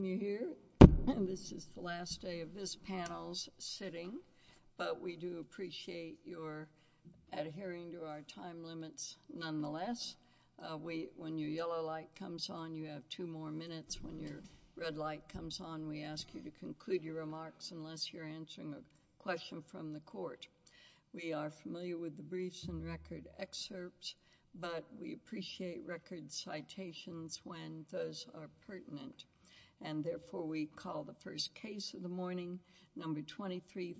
This is the last day of this panel's sitting, but we do appreciate your adhering to our time limits nonetheless. When your yellow light comes on, you have two more minutes. When your red light comes on, we ask you to conclude your remarks unless you're answering a question from the court. We are familiar with the briefs and record excerpts, but we appreciate record citations when those are pertinent. And therefore, we call the first case of the morning, number 23-506-97,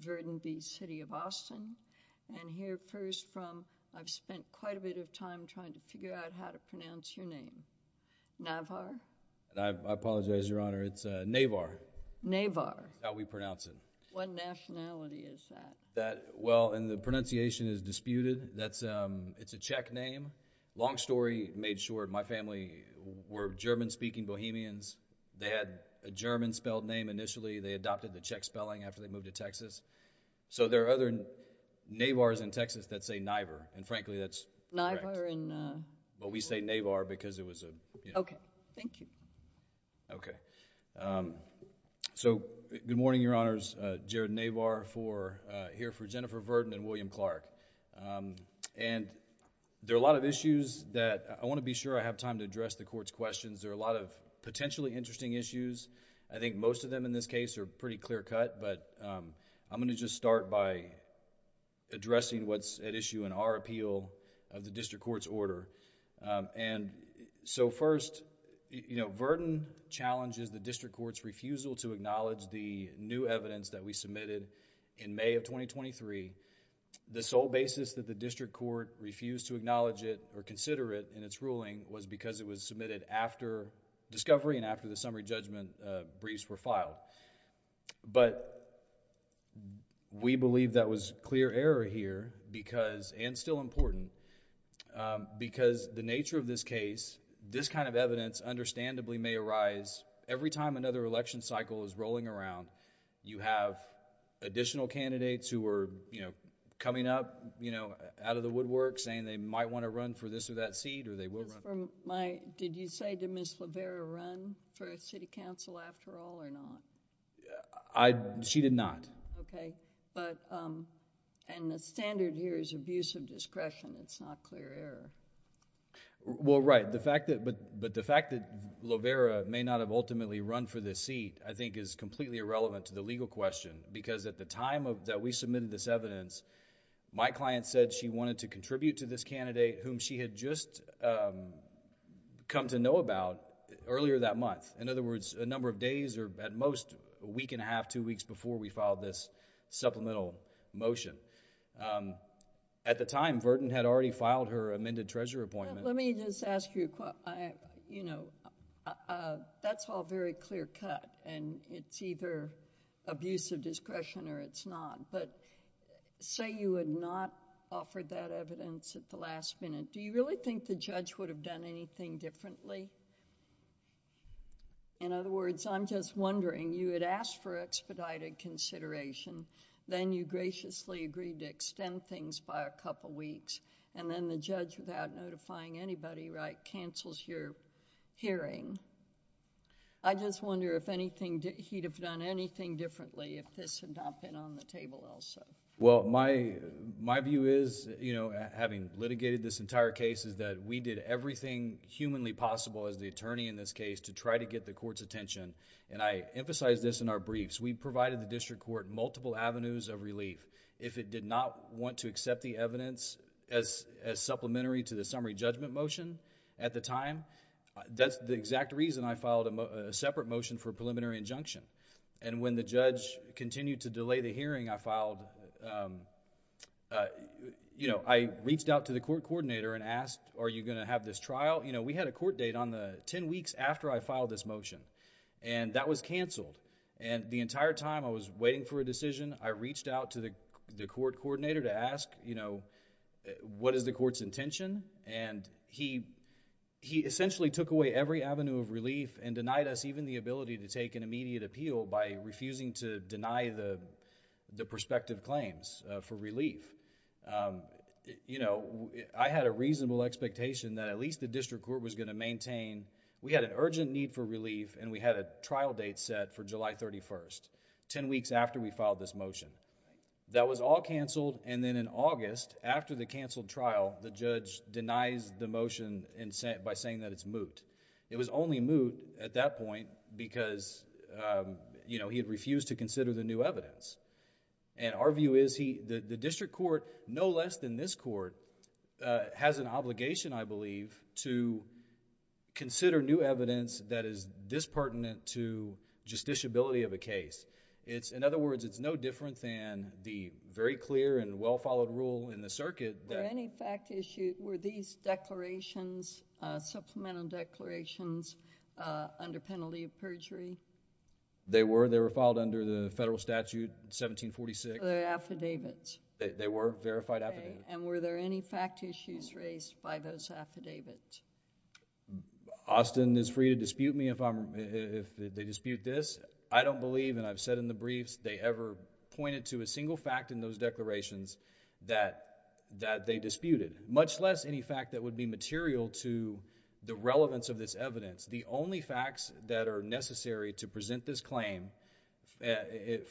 Virden v. City of Austin. And hear first from—I've spent quite a bit of time trying to figure out how to pronounce your name—Navar. I apologize, Your Honor. It's Navar. Navar. That's how we pronounce it. What nationality is that? Well, the pronunciation is disputed. It's a Czech name. Long story made short, my family were German-speaking Bohemians. They had a German-spelled name initially. They adopted the Czech spelling after they moved to Texas. So there are other Navars in Texas that say Niver, and frankly, that's incorrect. Niver and— But we say Navar because it was a, you know— Okay. Thank you. Okay. So, good morning, Your Honors. Jared Navar here for Jennifer Virden and William Clark. And there are a lot of issues that I want to be sure I have time to address the Court's questions. There are a lot of potentially interesting issues. I think most of them in this case are pretty clear-cut, but I'm going to just start by addressing what's at issue in our appeal of the District Court's order. And so first, you know, Virden challenges the District Court's refusal to acknowledge the new evidence that we submitted in May of 2023. The sole basis that the District Court refused to acknowledge it or consider it in its ruling was because it was submitted after discovery and after the summary judgment briefs were But we believe that was clear error here because, and still important, because the nature of this case, this kind of evidence understandably may arise every time another election cycle is rolling around. You have additional candidates who are, you know, coming up, you know, out of the woodwork saying they might want to run for this or that seat or they will run. Did you say did Ms. Lovera run for City Council after all or not? She did not. Okay. But, and the standard here is abuse of discretion, it's not clear error. Well, right. The fact that, but the fact that Lovera may not have ultimately run for this seat, I think is completely irrelevant to the legal question. Because at the time that we submitted this evidence, my client said she wanted to contribute to this candidate whom she had just come to know about earlier that month. In other words, a number of days or at most a week and a half, two weeks before we filed this supplemental motion. At the time, Verdon had already filed her amended treasurer appointment. Let me just ask you, you know, that's all very clear cut and it's either abuse of discretion or it's not. But say you had not offered that evidence at the last minute, do you really think the judge would have done anything differently? In other words, I'm just wondering, you had asked for expedited consideration, then you graciously agreed to extend things by a couple of weeks, and then the judge without notifying anybody, right, cancels your hearing. I just wonder if anything, he'd have done anything differently if this had not been on the table also. Well, my view is, you know, having litigated this entire case is that we did everything humanly possible as the attorney in this case to try to get the court's attention. And I emphasize this in our briefs. We provided the district court multiple avenues of relief. If it did not want to accept the evidence as supplementary to the summary judgment motion at the time, that's the exact reason I filed a separate motion for a preliminary injunction. And when the judge continued to delay the hearing, I filed, you know, I reached out to the court coordinator and asked, are you going to have this trial? You know, we had a court date on the ten weeks after I filed this motion. And that was canceled. And the entire time I was waiting for a decision, I reached out to the court coordinator to ask, you know, what is the court's intention? And he essentially took away every avenue of relief and denied us even the ability to take an immediate appeal by refusing to deny the prospective claims for relief. You know, I had a reasonable expectation that at least the district court was going to maintain, we had an urgent need for relief and we had a trial date set for July 31st, ten weeks after we filed this motion. That was all canceled and then in August, after the canceled trial, the judge denies the motion by saying that it's moot. It was only moot at that point because, you know, he had refused to consider the new evidence. And our view is the district court, no less than this court, has an obligation, I believe, to consider new evidence that is dispertinent to justiciability of a case. In other words, it's no different than the very clear and well-followed rule in the circuit that... Were any fact issues... were these declarations, supplemental declarations, under penalty of perjury? They were. They were filed under the federal statute, 1746. Were there affidavits? They were verified affidavits. Okay. And were there any fact issues raised by those affidavits? Austin is free to dispute me if they dispute this. I don't believe, and I've said in the briefs, they ever pointed to a single fact in those declarations that they disputed, much less any fact that would be material to the relevance of this evidence. The only facts that are necessary to present this claim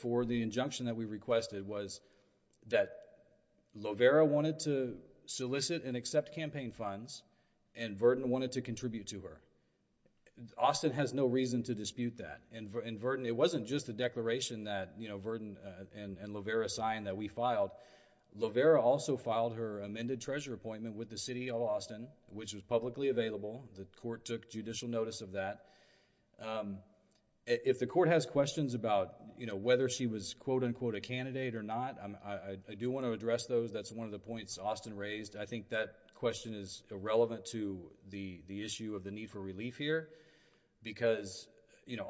for the injunction that we requested was that Lovera wanted to solicit and accept campaign funds, and Verdin wanted to contribute to her. Austin has no reason to dispute that, and Verdin... it wasn't just the declaration that Verdin and Lovera signed that we filed. Lovera also filed her amended treasurer appointment with the City of Austin, which was publicly available. The court took judicial notice of that. If the court has questions about whether she was quote-unquote a candidate or not, I do want to address those. That's one of the points Austin raised. I think that question is irrelevant to the issue of the need for relief here, because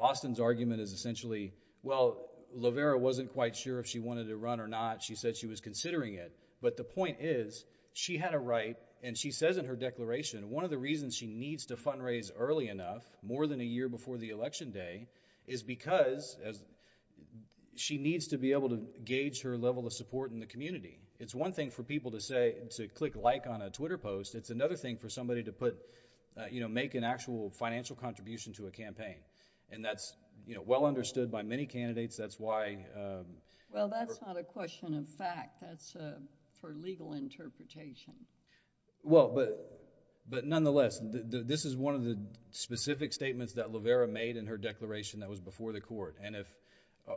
Austin's argument is essentially, well, Lovera wasn't quite sure if she wanted to run or not. She said she was considering it. But the point is, she had a right, and she says in her declaration, one of the reasons she needs to fundraise early enough, more than a year before the election day, is because she needs to be able to gauge her level of support in the community. It's one thing for people to say... to click like on a Twitter post. It's another thing for somebody to put... you know, make an actual financial contribution to a campaign, and that's, you know, well understood by many candidates. That's why... Well, that's not a question of fact. That's for legal interpretation. Well, but nonetheless, this is one of the specific statements that Lovera made in her declaration that was before the court, and if...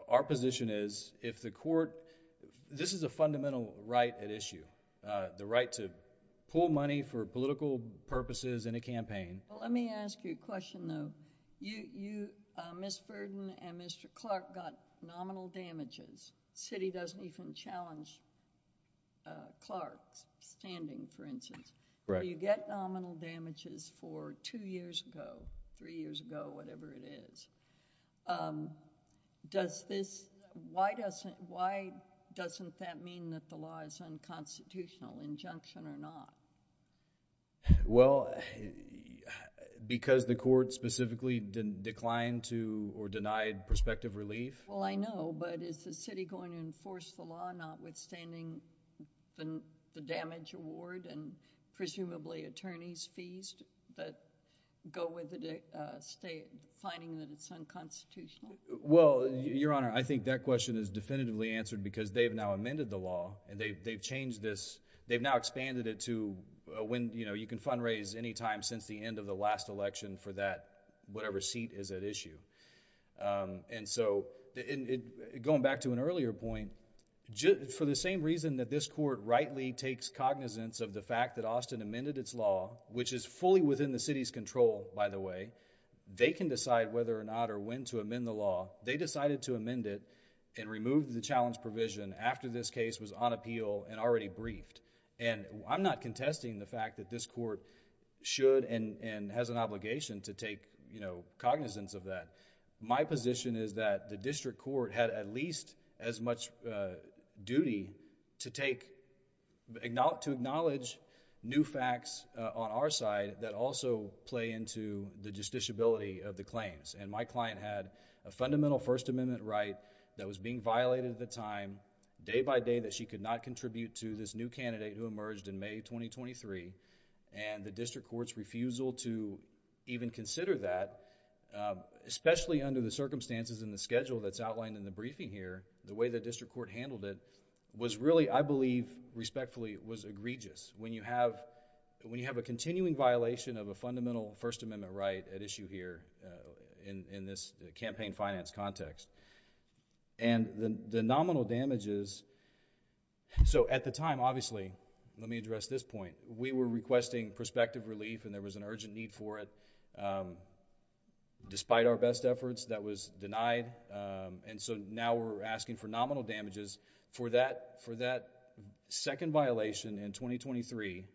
our position is, if the court... this is a fundamental right at issue, the right to pull money for political purposes in a campaign... Well, let me ask you a question though. Ms. Verdon and Mr. Clark got nominal damages. The city doesn't even challenge Clark's standing, for instance. Correct. So, you get nominal damages for two years ago, three years ago, whatever it is. Does this... why doesn't that mean that the law is unconstitutional, injunction or not? Well, because the court specifically declined to or denied prospective relief. Well, I know, but is the city going to enforce the law notwithstanding the damage award and presumably attorney's fees that go with the state finding that it's unconstitutional? Well, Your Honor, I think that question is definitively answered because they've now amended the law, and they've changed this... they've now expanded it to when, you know, you can fundraise any time since the end of the last election for that, whatever seat is at issue. And so, going back to an earlier point, for the same reason that this court rightly takes cognizance of the fact that Austin amended its law, which is fully within the city's control by the way, they can decide whether or not or when to amend the law. They decided to amend it and remove the challenge provision after this case was on appeal and already briefed. And, I'm not contesting the fact that this court should and has an obligation to take, you know, cognizance of that. My position is that the district court had at least as much duty to take... to acknowledge new facts on our side that also play into the justiciability of the claims. And my client had a fundamental First Amendment right that was being violated at the time, day by day, that she could not contribute to this new candidate who emerged in May 2023, and the district court's refusal to even consider that, especially under the circumstances and the schedule that's outlined in the briefing here, the way the district court handled it was really, I believe, respectfully, was egregious. When you have a continuing violation of a fundamental First Amendment right at issue here in this campaign finance context, and the nominal damages... So, at the time, obviously, let me address this point. We were requesting prospective relief and there was an urgent need for it, despite our best efforts, that was denied. And so, now we're asking for nominal damages for that second violation in 2023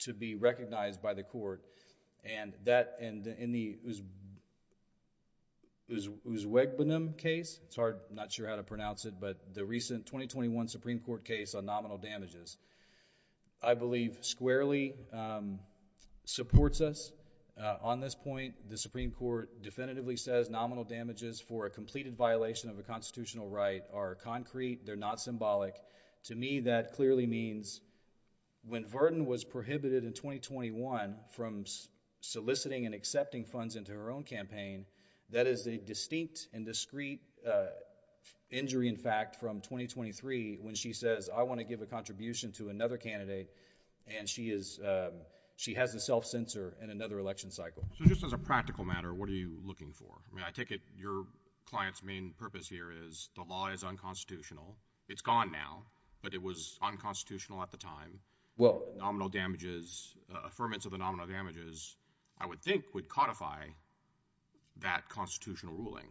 to be recognized by the court. And that... and in the Uzbekbanum case, it's hard, I'm not sure how to pronounce it, but the recent 2021 Supreme Court case on nominal damages, I believe, squarely supports us. On this point, the Supreme Court definitively says nominal damages for a completed violation of a constitutional right are concrete, they're not symbolic. To me, that clearly means when Virden was prohibited in 2021 from soliciting and accepting from 2023 when she says, I want to give a contribution to another candidate, and she has a self-censor in another election cycle. So, just as a practical matter, what are you looking for? I mean, I take it your client's main purpose here is the law is unconstitutional. It's gone now, but it was unconstitutional at the time. Nominal damages, affirmance of the nominal damages, I would think, would codify that constitutional ruling.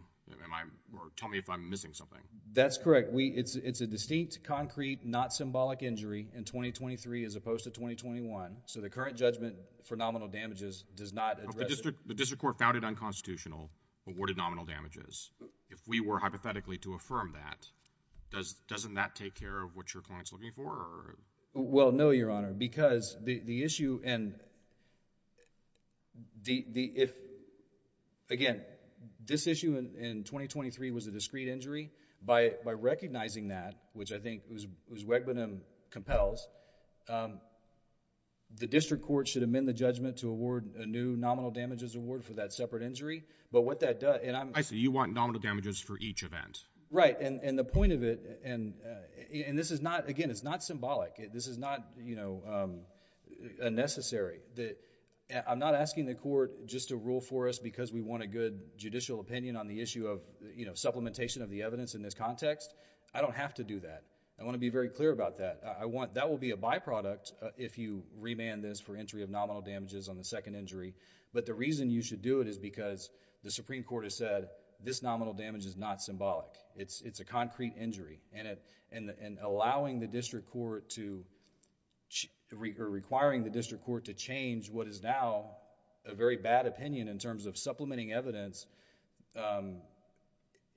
Or tell me if I'm missing something. That's correct. It's a distinct, concrete, not symbolic injury in 2023 as opposed to 2021, so the current judgment for nominal damages does not address that. The district court found it unconstitutional, awarded nominal damages. If we were hypothetically to affirm that, doesn't that take care of what your client's looking for? Well, no, Your Honor, because the issue, and if, again, this issue in 2023 was a discrete injury, by recognizing that, which I think Uswegbenim compels, the district court should amend the judgment to award a new nominal damages award for that separate injury. But what that does... I see. You want nominal damages for each event. Right. And the point of it, and this is not, again, it's not symbolic. This is not, you know, unnecessary. I'm not asking the court just to rule for us because we want a good judicial opinion on the issue of, you know, supplementation of the evidence in this context. I don't have to do that. I want to be very clear about that. I want... that will be a byproduct if you remand this for entry of nominal damages on the second injury, but the reason you should do it is because the Supreme Court has said this nominal damage is not symbolic. It's a concrete injury, and allowing the district court to... or requiring the district court to change what is now a very bad opinion in terms of supplementing evidence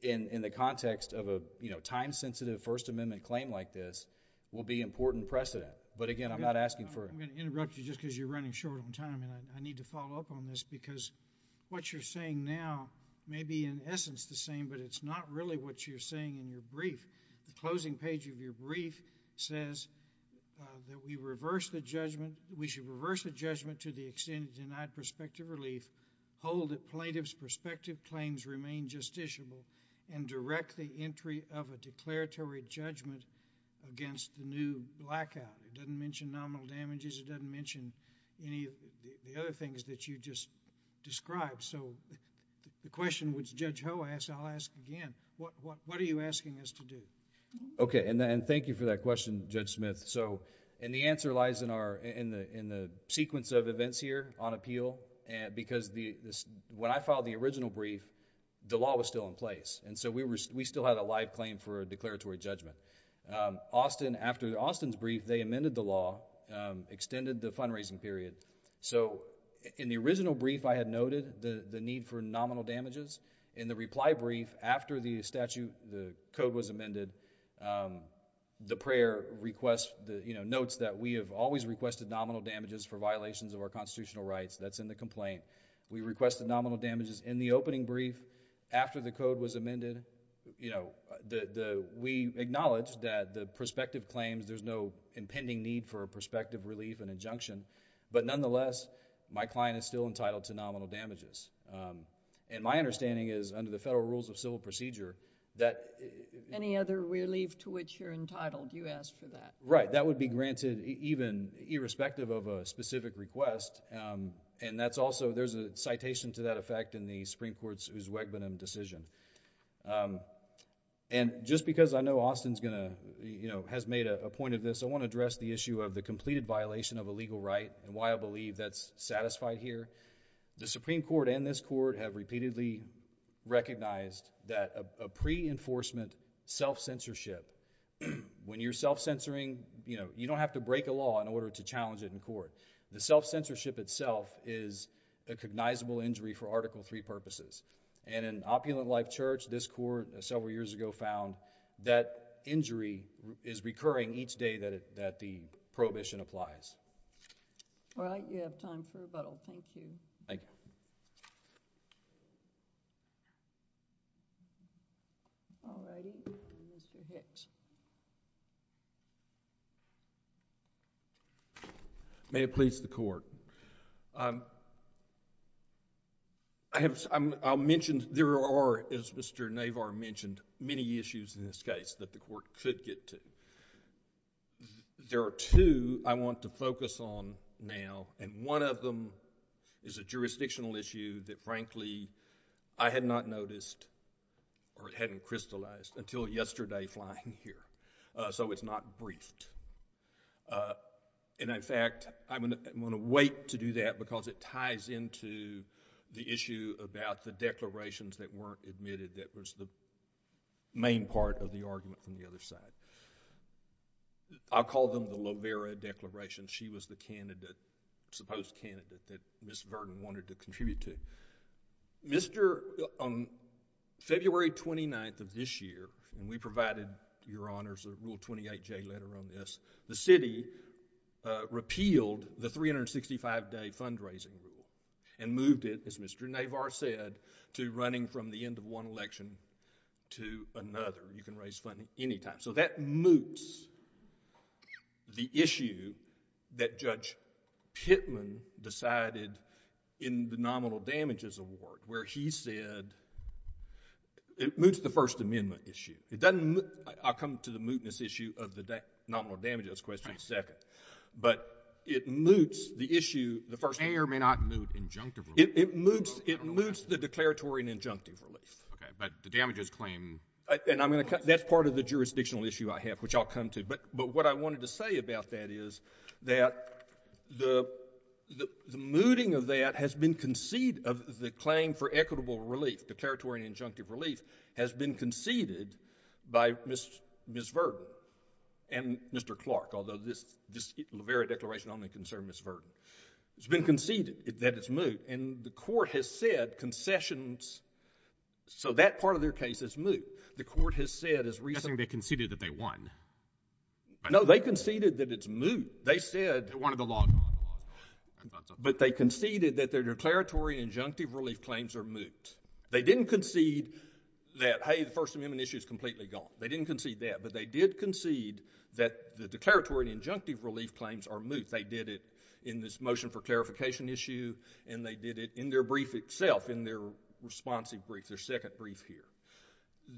in the context of a, you know, time-sensitive First Amendment claim like this will be important precedent. But again, I'm not asking for... I'm going to interrupt you just because you're running short on time, and I need to follow up on this because what you're saying now may be in essence the same, but it's not really what you're saying in your brief. The closing page of your brief says that we reverse the judgment... we should reverse the judgment to the extent of denied prospective relief, hold that plaintiff's prospective claims remain justiciable, and direct the entry of a declaratory judgment against the new blackout. It doesn't mention nominal damages. It doesn't mention any of the other things that you just described, so the question which Judge Ho asked, and I'll ask again, what are you asking us to do? Okay, and thank you for that question, Judge Smith, and the answer lies in the sequence of events here on appeal because when I filed the original brief, the law was still in place, and so we still had a live claim for a declaratory judgment. After Austin's brief, they amended the law, extended the fundraising period, so in the original brief, I had noted the need for nominal damages. In the reply brief, after the code was amended, the prayer notes that we have always requested nominal damages for violations of our constitutional rights. That's in the complaint. We requested nominal damages in the opening brief after the code was amended. We acknowledge that the prospective claims, there's no impending need for a prospective relief and injunction, but nonetheless, my client is still entitled to nominal damages. My understanding is under the Federal Rules of Civil Procedure that... Any other relief to which you're entitled, you asked for that? Right. That would be granted even irrespective of a specific request, and there's a citation to that effect in the Supreme Court's Uswegbenim decision. Just because I know Austin has made a point of this, I want to address the issue of the completed violation of a legal right and why I believe that's satisfied here. The Supreme Court and this court have repeatedly recognized that a pre-enforcement self-censorship, when you're self-censoring, you don't have to break a law in order to challenge it in The self-censorship itself is a cognizable injury for Article III purposes, and in Opulent Life Church, this court several years ago found that injury is recurring each day that the prohibition applies. All right. You have time for rebuttal. Thank you. Thank you. All righty. Mr. Hitch. May it please the Court. There are, as Mr. Navar mentioned, many issues in this case that the court could get to. There are two I want to focus on now, and one of them is a jurisdictional issue that, frankly, I had not noticed or hadn't crystallized until yesterday flying here, so it's not briefed. In fact, I'm going to wait to do that because it ties into the issue about the declarations that weren't admitted that was the main part of the argument from the other side. I'll call them the Lovera Declaration. She was the candidate, supposed candidate, that Ms. Virden wanted to contribute to. Mr.... on February 29th of this year, and we provided, Your Honors, a Rule 28J letter on this, the city repealed the 365-day fundraising rule and moved it, as Mr. Navar said, to running from the end of one election to another. You can raise funding any time. So that moots the issue that Judge Pittman decided in the Nominal Damages Award where he said... it moots the First Amendment issue. It doesn't... I'll come to the mootness issue of the Nominal Damages question second, but it moots the issue... The mayor may not moot injunctively. It moots the declaratory and injunctive relief. Okay, but the damages claim... That's part of the jurisdictional issue I have, which I'll come to, but what I wanted to say about that is that the mooting of that has been conceded, of the claim for equitable relief, declaratory and injunctive relief, has been conceded by Ms. Virden and Mr. Clark, although this Lovera Declaration only concerned Ms. Virden. It's been conceded that it's moot, and the court has said concessions... So that part of their case is moot. The court has said as recently... I'm guessing they conceded that they won. No, they conceded that it's moot. They said... They wanted the law gone. I thought so. But they conceded that their declaratory and injunctive relief claims are moot. They didn't concede that, hey, the First Amendment issue is completely gone. They didn't concede that, but they did concede that the declaratory and injunctive relief claims are moot. They did it in this motion for clarification issue, and they did it in their brief itself, in their responsive brief, their second brief here.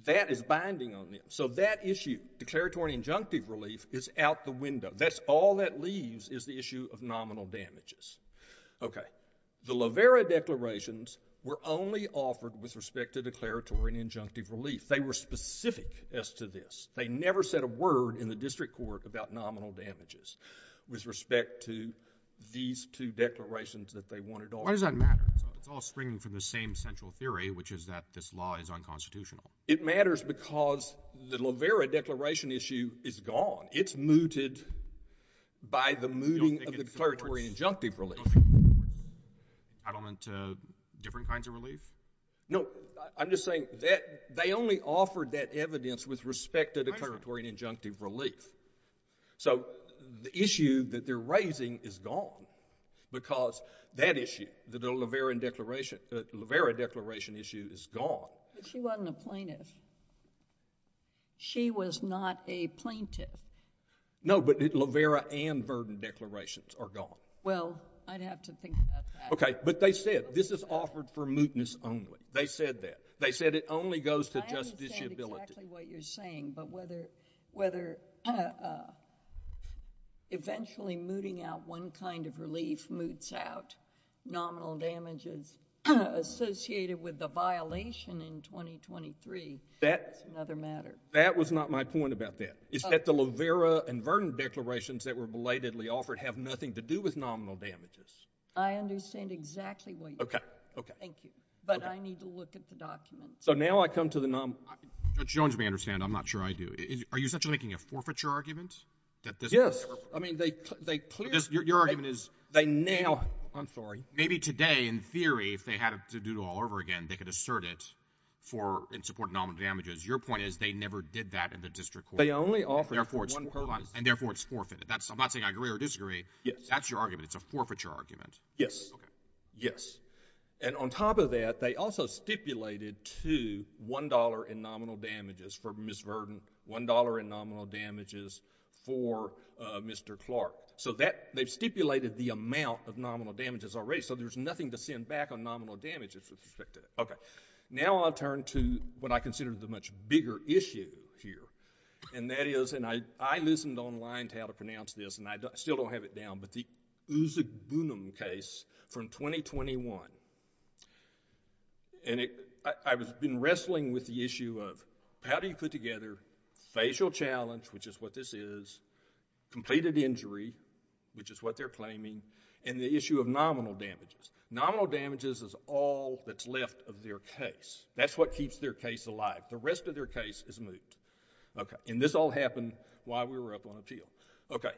That is binding on them. So that issue, declaratory and injunctive relief, is out the window. That's all that leaves is the issue of nominal damages. The Lovera Declarations were only offered with respect to declaratory and injunctive relief. They were specific as to this. They never said a word in the district court about nominal damages with respect to these two declarations that they wanted offered. Why does that matter? It's all springing from the same central theory, which is that this law is unconstitutional. It matters because the Lovera Declaration issue is gone. It's mooted by the mooting of the declaratory and injunctive relief. You don't think it supports settlement to different kinds of relief? No, I'm just saying that they only offered that evidence with respect to declaratory and injunctive relief. So the issue that they're raising is gone because that issue, the Lovera Declaration issue is gone. But she wasn't a plaintiff. She was not a plaintiff. No, but Lovera and Verden declarations are gone. Well, I'd have to think about that. But they said this is offered for mootness only. They said that. They said it only goes to justiciability. I understand exactly what you're saying, but whether eventually mooting out one kind of relief moots out nominal damages associated with the violation in 2023, that's another matter. That was not my point about that. It's that the Lovera and Verden declarations that were belatedly offered have nothing to do with nominal damages. I understand exactly what you're saying. Okay. Okay. Thank you. But I need to look at the documents. So now I come to the nominal... Judge Jones may understand. I'm not sure I do. Are you essentially making a forfeiture argument that this... Yes. I mean, they clearly... Your argument is... They now... I'm sorry. Maybe today, in theory, if they had to do it all over again, they could assert it for in support of nominal damages. Your point is they never did that in the district court. They only offered it for one purpose. And therefore, it's forfeited. I'm not saying I agree or disagree. Yes. That's your argument. It's a forfeiture argument. Okay. Yes. And on top of that, they also stipulated to $1 in nominal damages for Ms. Verden, $1 in nominal damages for Mr. Clark. So that... They've stipulated the amount of nominal damages already. So there's nothing to send back on nominal damages with respect to that. Okay. Now I'll turn to what I consider the much bigger issue here. And that is... And I listened online to how to pronounce this, and I still don't have it down, but the Uzugbunum case from 2021. And it... I've been wrestling with the issue of how do you put together facial challenge, which is what this is, completed injury, which is what they're claiming, and the issue of nominal damages. Nominal damages is all that's left of their case. That's what keeps their case alive. The rest of their case is moot. Okay. And this all happened while we were up on appeal. Okay.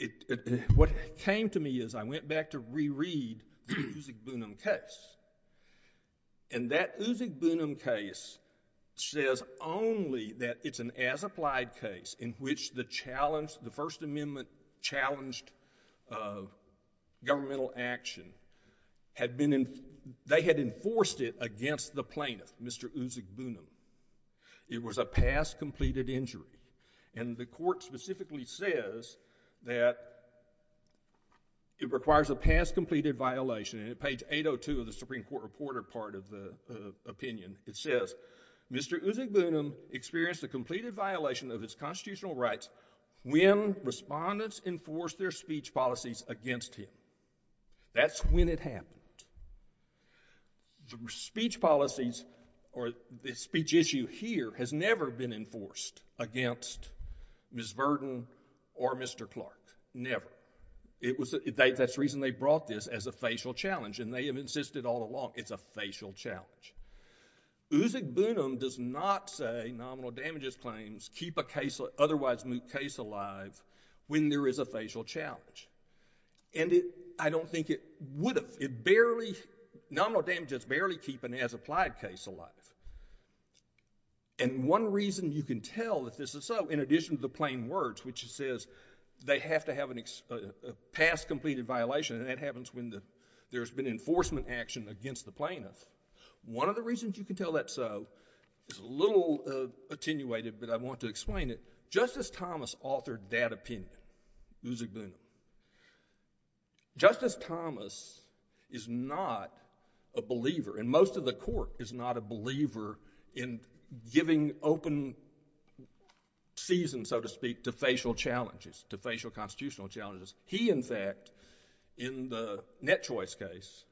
It... What came to me is I went back to reread the Uzugbunum case. And that Uzugbunum case says only that it's an as-applied case in which the challenge... The First Amendment-challenged governmental action had been... They had enforced it against the plaintiff, Mr. Uzugbunum. It was a past-completed injury. And the court specifically says that it requires a past-completed violation. And at page 802 of the Supreme Court Reporter part of the opinion, it says, Mr. Uzugbunum experienced a completed violation of his constitutional rights when respondents enforced their speech policies against him. That's when it happened. The speech policies or the speech issue here has never been enforced against Ms. Verden or Mr. Clark. Never. That's the reason they brought this as a facial challenge and they have insisted all along it's a facial challenge. Uzugbunum does not say nominal damages claims keep a otherwise moot case alive when there is a facial challenge. And I don't think it would have. Nominal damages barely keep an as-applied case alive. And one reason you can tell that this is so, in addition to the plain words, which says they have to have a past-completed violation, and that happens when there's been enforcement action against the plaintiff. One of the reasons you can tell that's so is a little attenuated, but I want to explain it. Justice Thomas authored that opinion, Uzugbunum. Justice Thomas is not a believer, and most of the court is not a believer, in giving open season, so to speak, to facial challenges, to facial constitutional challenges. He, in fact, in the Net Choice case,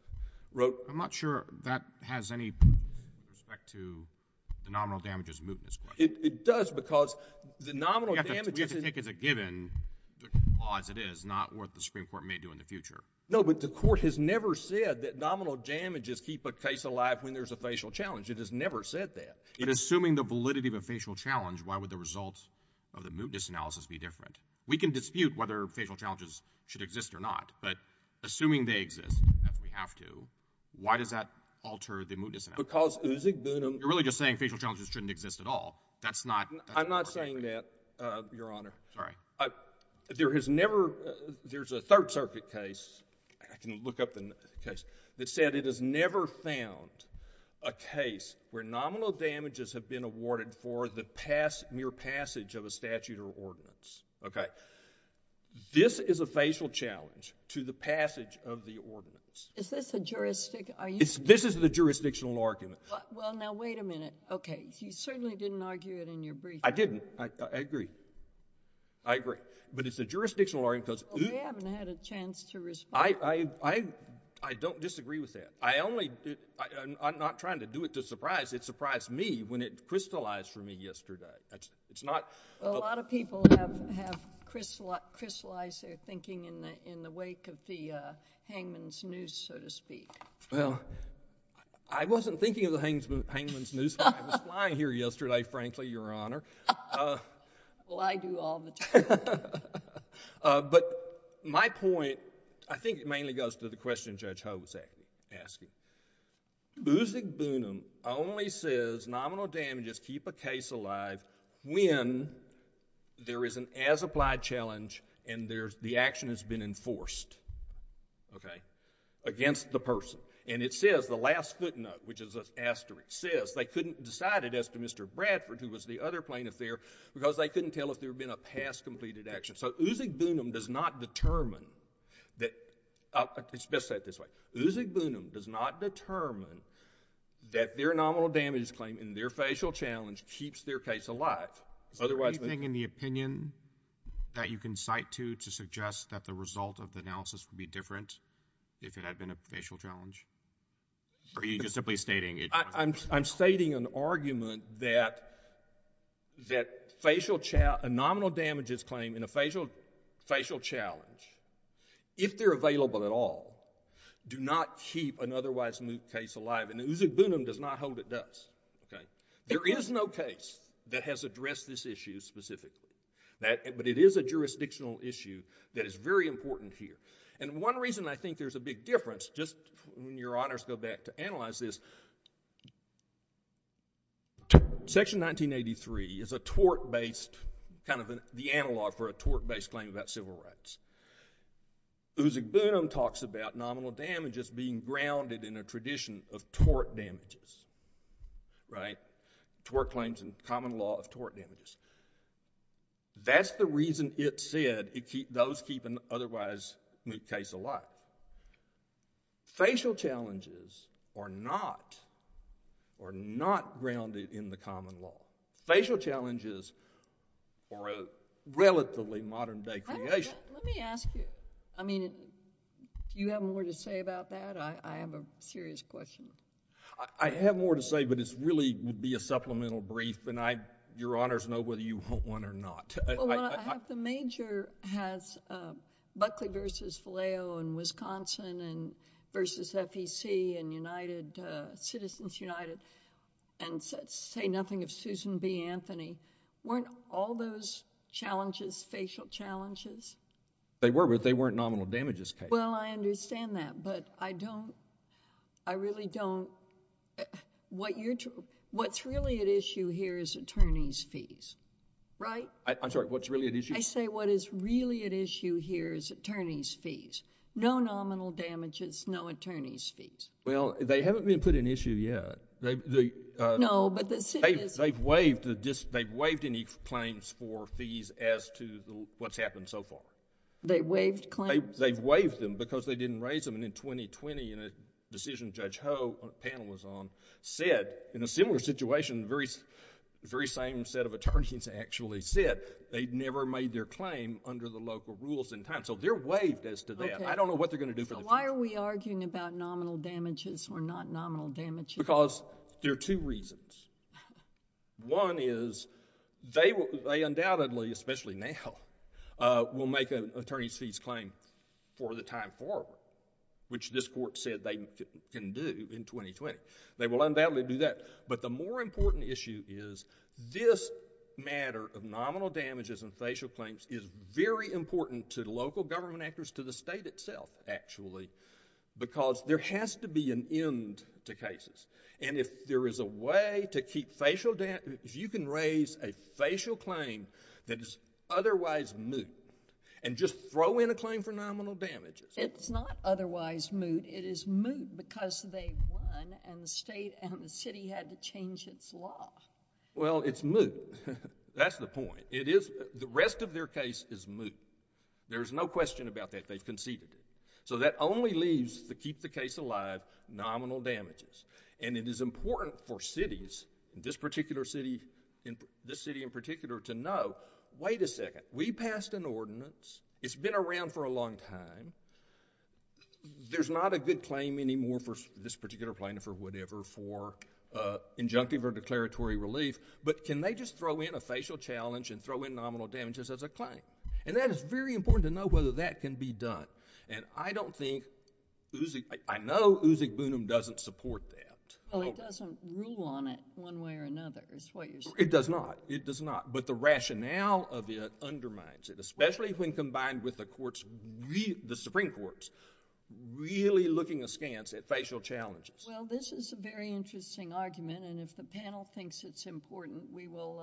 wrote- I'm not sure that has any respect to the nominal damages mootness claim. It does because the nominal damages- We have to take as a given the clause it is, not what the Supreme Court may do in the future. No, but the court has never said that nominal damages keep a case alive when there's a facial challenge. It has never said that. But assuming the validity of a facial challenge, why would the results of the mootness analysis be different? We can dispute whether facial challenges should exist or not, but assuming they exist, if we have to, why does that alter the mootness analysis? Because Uzugbunum- You're really just saying facial challenges shouldn't exist at all. That's not- I'm not saying that, Your Honor. Sorry. There has never- there's a Third Circuit case- I can look up the case- that said it has never found a case where nominal damages have been awarded for the mere passage of a statute or ordinance. Okay? This is a facial challenge to the passage of the ordinance. Is this a juristic- This is the jurisdictional argument. Well, now, wait a minute. Okay. You certainly didn't argue it in your briefing. I didn't. I agree. I agree. But it's a jurisdictional argument because- Well, we haven't had a chance to respond. I don't disagree with that. I only- I'm not trying to do it to surprise. It surprised me when it crystallized for me yesterday. It's not- Well, a lot of people have crystallized their thinking in the wake of the hangman's noose, so to speak. Well, I wasn't thinking of the hangman's noose when I was flying here yesterday, frankly, Your Honor. Well, I do all the time. But my point, I think it mainly goes to the question Judge Ho was asking. Buzig Boonum only says nominal damages keep a case alive when there is an as-applied challenge and the action has been enforced, okay, against the person. And it says, the last footnote, which is an asterisk, says they couldn't decide it as to Mr. Bradford, who was the other plaintiff there, because they couldn't tell if there had been a past completed action. So Buzig Boonum does not determine that- let's say it this way. Buzig Boonum does not determine that their nominal damage claim in their facial challenge keeps their case alive, otherwise- Is there anything in the opinion that you can cite to, to suggest that the Are you just simply stating- I'm stating an argument that a nominal damages claim in a facial challenge, if they're available at all, do not keep an otherwise moot case alive. And Buzig Boonum does not hold it does. There is no case that has addressed this issue specifically. But it is a jurisdictional issue that is very important here. And one reason I think there's a big difference, just when your honors go back to analyze this, Section 1983 is a tort-based, kind of the analog for a tort-based claim about civil rights. Buzig Boonum talks about nominal damages being grounded in a tradition of tort damages, right? Tort claims and common law of tort damages. That's the reason it said those keep an otherwise moot case alive. Facial challenges are not, are not grounded in the common law. Facial challenges are a relatively modern day creation. Let me ask you, I mean, do you have more to say about that? I have a serious question. I have more to say, but it's really would be a supplemental brief. And your honors know whether you want one or not. Well, I have the major has Buckley v. Valeo in Wisconsin and v. FEC in United, Citizens United, and say nothing of Susan B. Anthony. Weren't all those challenges facial challenges? They were, but they weren't nominal damages cases. Well, I understand that, but I don't, I really don't. What's really at issue here is attorney's fees, right? I'm sorry, what's really at issue? I say what is really at issue here is attorney's fees. No nominal damages, no attorney's fees. Well, they haven't been put in issue yet. No, but the... They've waived any claims for fees as to what's happened so far. They've waived claims? They've waived them because they didn't raise them. And in 2020, in a decision Judge Ho, the panel was on, said, in a similar situation, the very same set of attorneys actually said, they'd never made their claim under the local rules in time. So they're waived as to that. Okay. I don't know what they're going to do for the future. So why are we arguing about nominal damages or not nominal damages? Because there are two reasons. One is they undoubtedly, especially now, will make an attorney's fees claim for the time forward, which this court said they can do in 2020. They will undoubtedly do that. But the more important issue is this matter of nominal damages and facial claims is very important to local government actors, to the state itself actually, because there has to be an end to cases. And if there is a way to keep facial... If you can raise a facial claim that is otherwise moot and just throw in a claim for nominal damages... It's not otherwise moot. It is moot because they won and the state and the city had to change its law. Well, it's moot. That's the point. The rest of their case is moot. There's no question about that. They've conceded it. So that only leaves to keep the case alive, nominal damages. And it is important for cities, this particular city in particular, to know, wait a second, we passed an ordinance. It's been around for a long time. There's not a good claim anymore for this particular plaintiff or whatever for injunctive or declaratory relief, but can they just throw in a facial challenge and throw in nominal damages as a claim? And that is very important to know whether that can be done. And I don't think Uzi... I know Uzi Gbunim doesn't support that. Well, it doesn't rule on it one way or another is what you're saying. It does not. It does not. But the rationale of it undermines it, especially when combined with the Supreme Court's really looking askance at facial challenges. Well, this is a very interesting argument, and if the panel thinks it's important, we will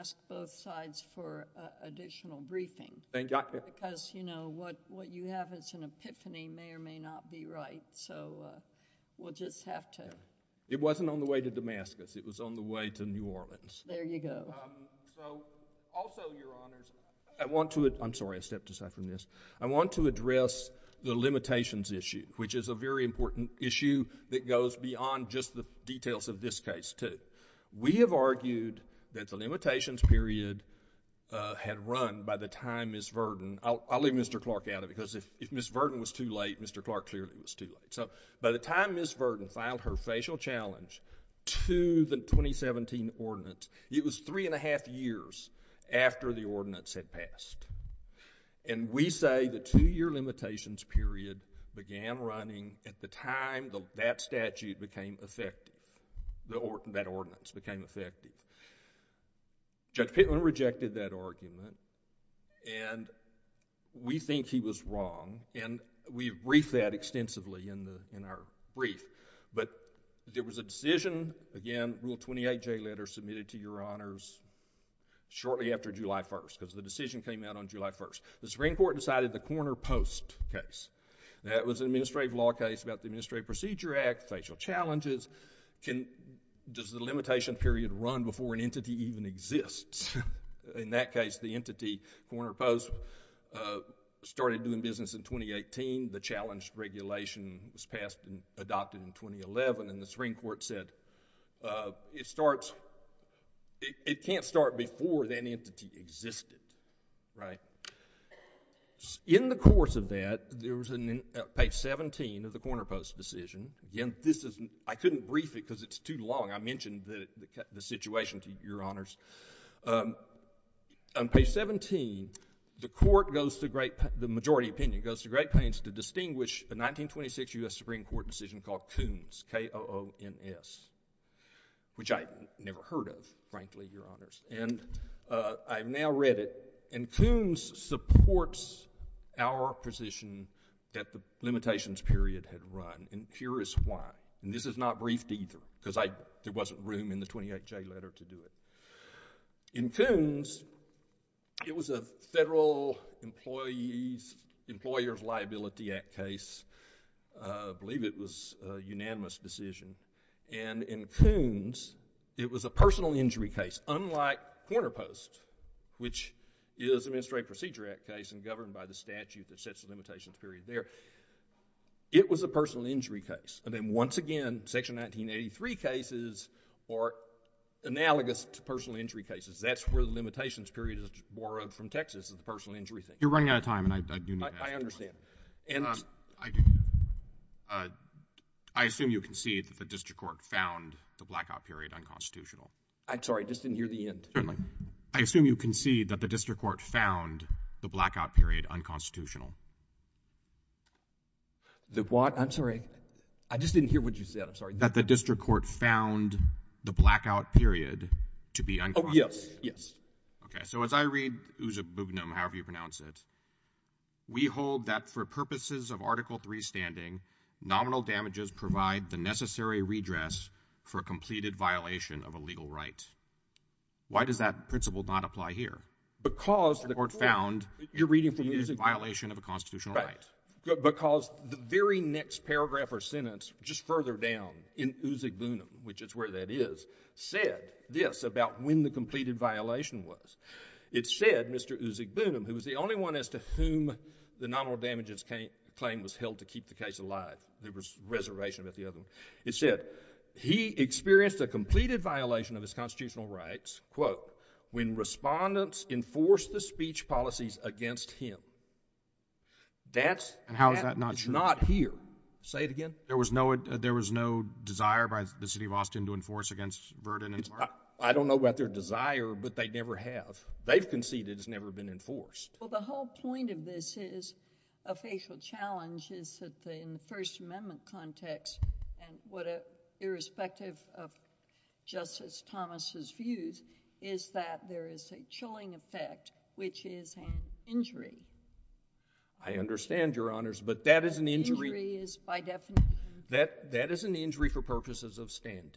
ask both sides for additional briefing. Thank you. Because, you know, what you have as an epiphany may or may not be right, so we'll just have to... It wasn't on the way to Damascus. It was on the way to New Orleans. There you go. So, also, Your Honors, I want to... I'm sorry. I stepped aside from this. I want to address the limitations issue, which is a very important issue that goes beyond just the details of this case, too. We have argued that the limitations period had run by the time Ms. Virden... I'll leave Mr. Clark out of it because if Ms. Virden was too late, Mr. Clark clearly was too late. So, by the time Ms. Virden filed her facial challenge to the 2017 ordinance, it was three and a half years after the ordinance had passed, and we say the two-year limitations period began running at the time that statute became effective, that ordinance became effective. Judge Pitman rejected that argument, and we think he was wrong, and we briefed that extensively in our brief, but there was a decision. Again, Rule 28J letter submitted to Your Honors shortly after July 1st because the decision came out on July 1st. The Supreme Court decided the corner post case. That was an administrative law case about the Administrative Procedure Act, facial challenges. Does the limitation period run before an entity even exists? In that case, the entity, corner post, started doing business in 2018. The challenge regulation was passed and adopted in 2011, and the Supreme Court said it can't start before that entity existed. In the course of that, there was a page 17 of the corner post decision. Again, I couldn't brief it because it's too long. I mentioned the situation to Your Honors. On page 17, the majority opinion goes to Great Plains to distinguish a 1926 U.S. Supreme Court decision called Koons, K-O-O-N-S, which I never heard of, frankly, Your Honors. I've now read it, and Koons supports our position that the limitations period had run and curious why. This is not briefed either because there wasn't room in the 28J letter to do it. In Koons, it was a Federal Employer's Liability Act case. I believe it was a unanimous decision. In Koons, it was a personal injury case. That's unlike corner post, which is an Administrative Procedure Act case and governed by the statute that sets the limitations period there. It was a personal injury case. Then once again, Section 1983 cases are analogous to personal injury cases. That's where the limitations period is borrowed from Texas is the personal injury thing. You're running out of time, and I do need to ask a question. I understand. I assume you concede that the district court found the blackout period unconstitutional. I'm sorry. I just didn't hear the end. I assume you concede that the district court found the blackout period unconstitutional. The what? I'm sorry. I just didn't hear what you said. I'm sorry. That the district court found the blackout period to be unconstitutional. Oh, yes. Yes. Okay. So as I read Uzubugnum, however you pronounce it, we hold that for purposes of Article III standing, nominal damages provide the necessary redress for a completed violation of a legal right. Why does that principle not apply here? Because the court found it is a violation of a constitutional right. Because the very next paragraph or sentence just further down in Uzubugnum, which is where that is, said this about when the completed violation was. It said Mr. Uzubugnum, who was the only one as to whom the nominal damages claim was held to keep the case alive. There was a reservation about the other one. It said he experienced a completed violation of his constitutional rights, quote, when respondents enforced the speech policies against him. And how is that not true? That is not here. Say it again. There was no desire by the city of Austin to enforce against Verdon and Clark? I don't know about their desire, but they never have. They've conceded it's never been enforced. Well, the whole point of this is a facial challenge is that in the First Amendment context and what irrespective of Justice Thomas' views is that there is a chilling effect, which is an injury. I understand, Your Honors, but that is an injury. Injury is by definition. That is an injury for purposes of standing.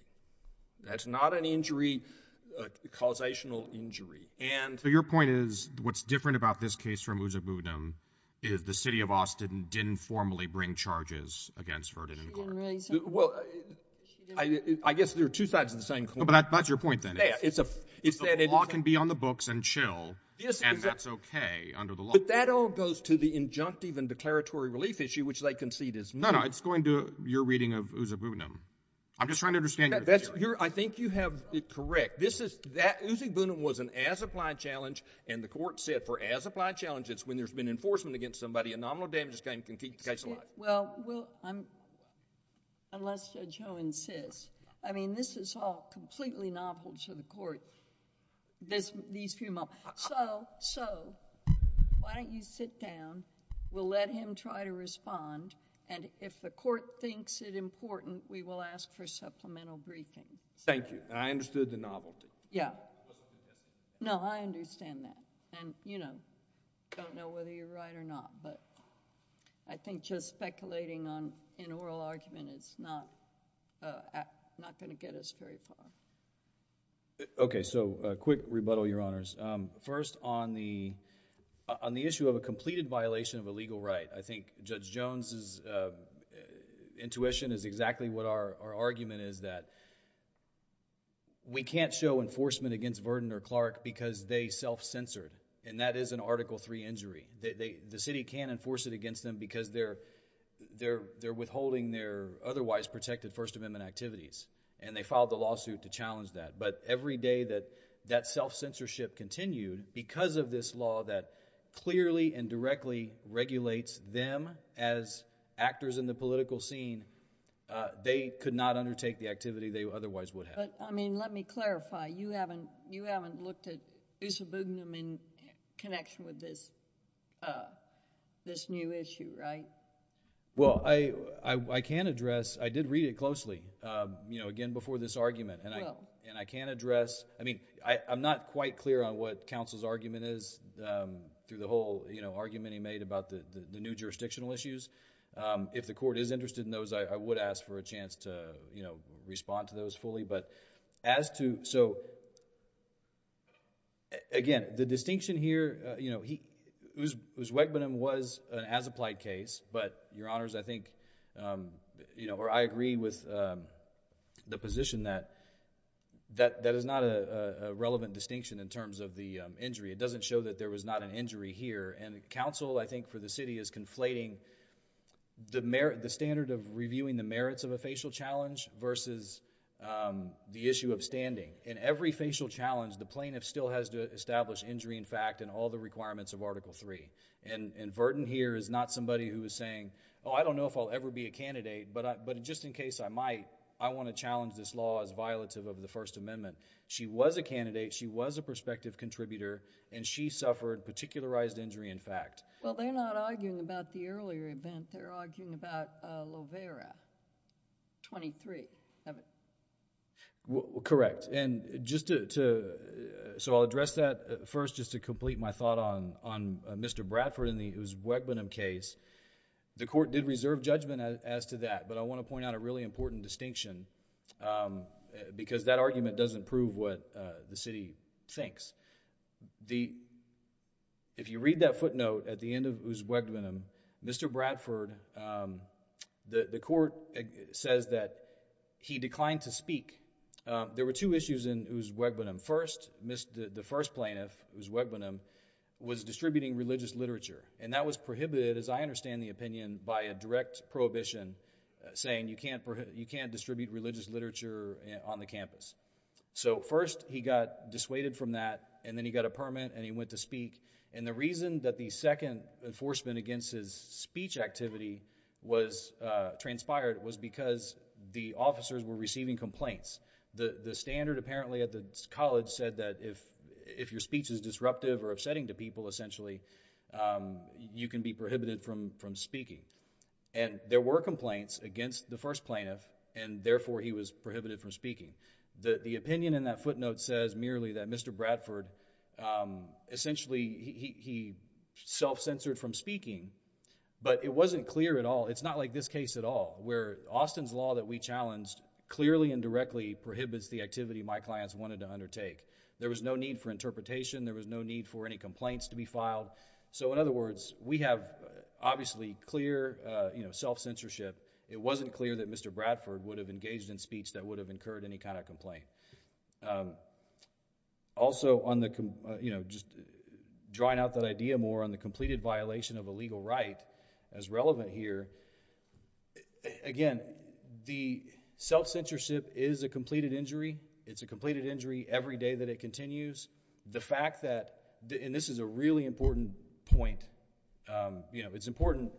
That's not an injury, a causational injury. So your point is what's different about this case from Usseg-Boonham is the city of Austin didn't formally bring charges against Verdon and Clark. Well, I guess they're two sides of the same coin. But that's your point then. The law can be on the books and chill, and that's okay under the law. But that all goes to the injunctive and declaratory relief issue, which they concede is new. No, no. It's going to your reading of Usseg-Boonham. I'm just trying to understand. I think you have it correct. Usseg-Boonham was an as-applied challenge, and the court said for as-applied challenges, when there's been enforcement against somebody, a nominal damages claim can keep the case alive. Well, unless Judge Ho insists. I mean, this is all completely novel to the court, these few moments. So, why don't you sit down. We'll let him try to respond, and if the court thinks it important, we will ask for supplemental briefing. Thank you. And I understood the novelty. Yeah. No, I understand that. And, you know, don't know whether you're right or not, but I think just speculating on an oral argument is not going to get us very far. Okay. So, a quick rebuttal, Your Honors. First, on the issue of a completed violation of a legal right, I think Judge Jones' intuition is exactly what our argument is, that we can't show enforcement against Verdant or Clark because they self-censored, and that is an Article III injury. The city can't enforce it against them because they're withholding their otherwise protected First Amendment activities, and they filed a lawsuit to challenge that. But every day that that self-censorship continued, because of this law that clearly and directly regulates them as actors in the political scene, they could not undertake the activity they otherwise would have. But, I mean, let me clarify. You haven't looked at Usabugnam in connection with this new issue, right? Well, I can address... I did read it closely, you know, again, before this argument. You will. And I can address... I mean, I'm not quite clear on what counsel's argument is through the whole, you know, argument he made about the new jurisdictional issues. If the court is interested in those, I would ask for a chance to, you know, respond to those fully. But as to... So, again, the distinction here, you know, Usabugnam was an as-applied case. But, Your Honors, I think, you know, or I agree with the position that that is not a relevant distinction in terms of the injury. It doesn't show that there was not an injury here. And counsel, I think, for the city is conflating the standard of reviewing the merits of a facial challenge versus the issue of standing. In every facial challenge, the plaintiff still has to establish injury in fact in all the requirements of Article III. And Verden here is not somebody who is saying, oh, I don't know if I'll ever be a candidate, but just in case I might, I want to challenge this law as violative of the First Amendment. She was a candidate. She was a prospective contributor. And she suffered particularized injury in fact. Well, they're not arguing about the earlier event. They're arguing about Lovera 23. Correct. And just to... So, I'll address that first just to complete my thought on Mr. Bradford and the Usabugnam case. The court did reserve judgment as to that. But I want to point out a really important distinction because that argument doesn't prove what the city thinks. If you read that footnote at the end of Usabugnam, Mr. Bradford, the court says that he declined to speak. There were two issues in Usabugnam. First, the first plaintiff, Usabugnam, was distributing religious literature. And that was prohibited, as I understand the opinion, by a direct prohibition saying you can't distribute religious literature on the campus. So, first he got dissuaded from that, and then he got a permit, and he went to speak. And the reason that the second enforcement against his speech activity transpired was because the officers were receiving complaints. The standard, apparently, at the college said that if your speech is disruptive or upsetting to people, essentially, you can be prohibited from speaking. And there were complaints against the first plaintiff, and therefore he was prohibited from speaking. The opinion in that footnote says merely that Mr. Bradford, essentially, he self-censored from speaking, but it wasn't clear at all. It's not like this case at all, where Austin's law that we challenged clearly and directly prohibits the activity my clients wanted to undertake. There was no need for interpretation. There was no need for any complaints to be filed. So, in other words, we have, obviously, clear self-censorship. It wasn't clear that Mr. Bradford would have engaged in speech that would have incurred any kind of complaint. Also, just drawing out that idea more on the completed violation of a legal right as relevant here, again, the self-censorship is a completed injury. It's a completed injury every day that it continues. The fact that—and this is a really important point. It's important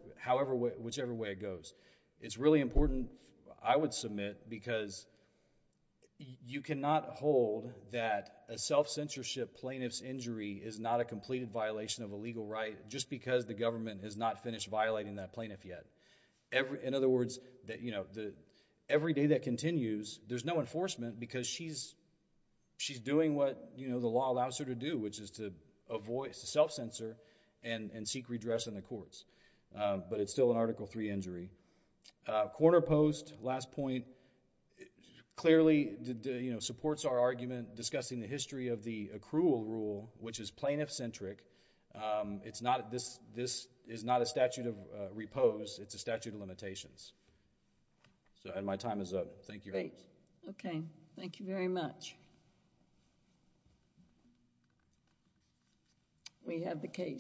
whichever way it goes. It's really important, I would submit, because you cannot hold that a self-censorship plaintiff's injury is not a completed violation of a legal right just because the government has not finished violating that plaintiff yet. In other words, every day that continues, there's no enforcement because she's doing what the law allows her to do, which is to self-censor and seek redress in the courts, but it's still an Article III injury. Corner post, last point, clearly supports our argument discussing the history of the accrual rule, which is plaintiff-centric. This is not a statute of repose. It's a statute of limitations. And my time is up. Thank you. Okay. Thank you very much. We have the case.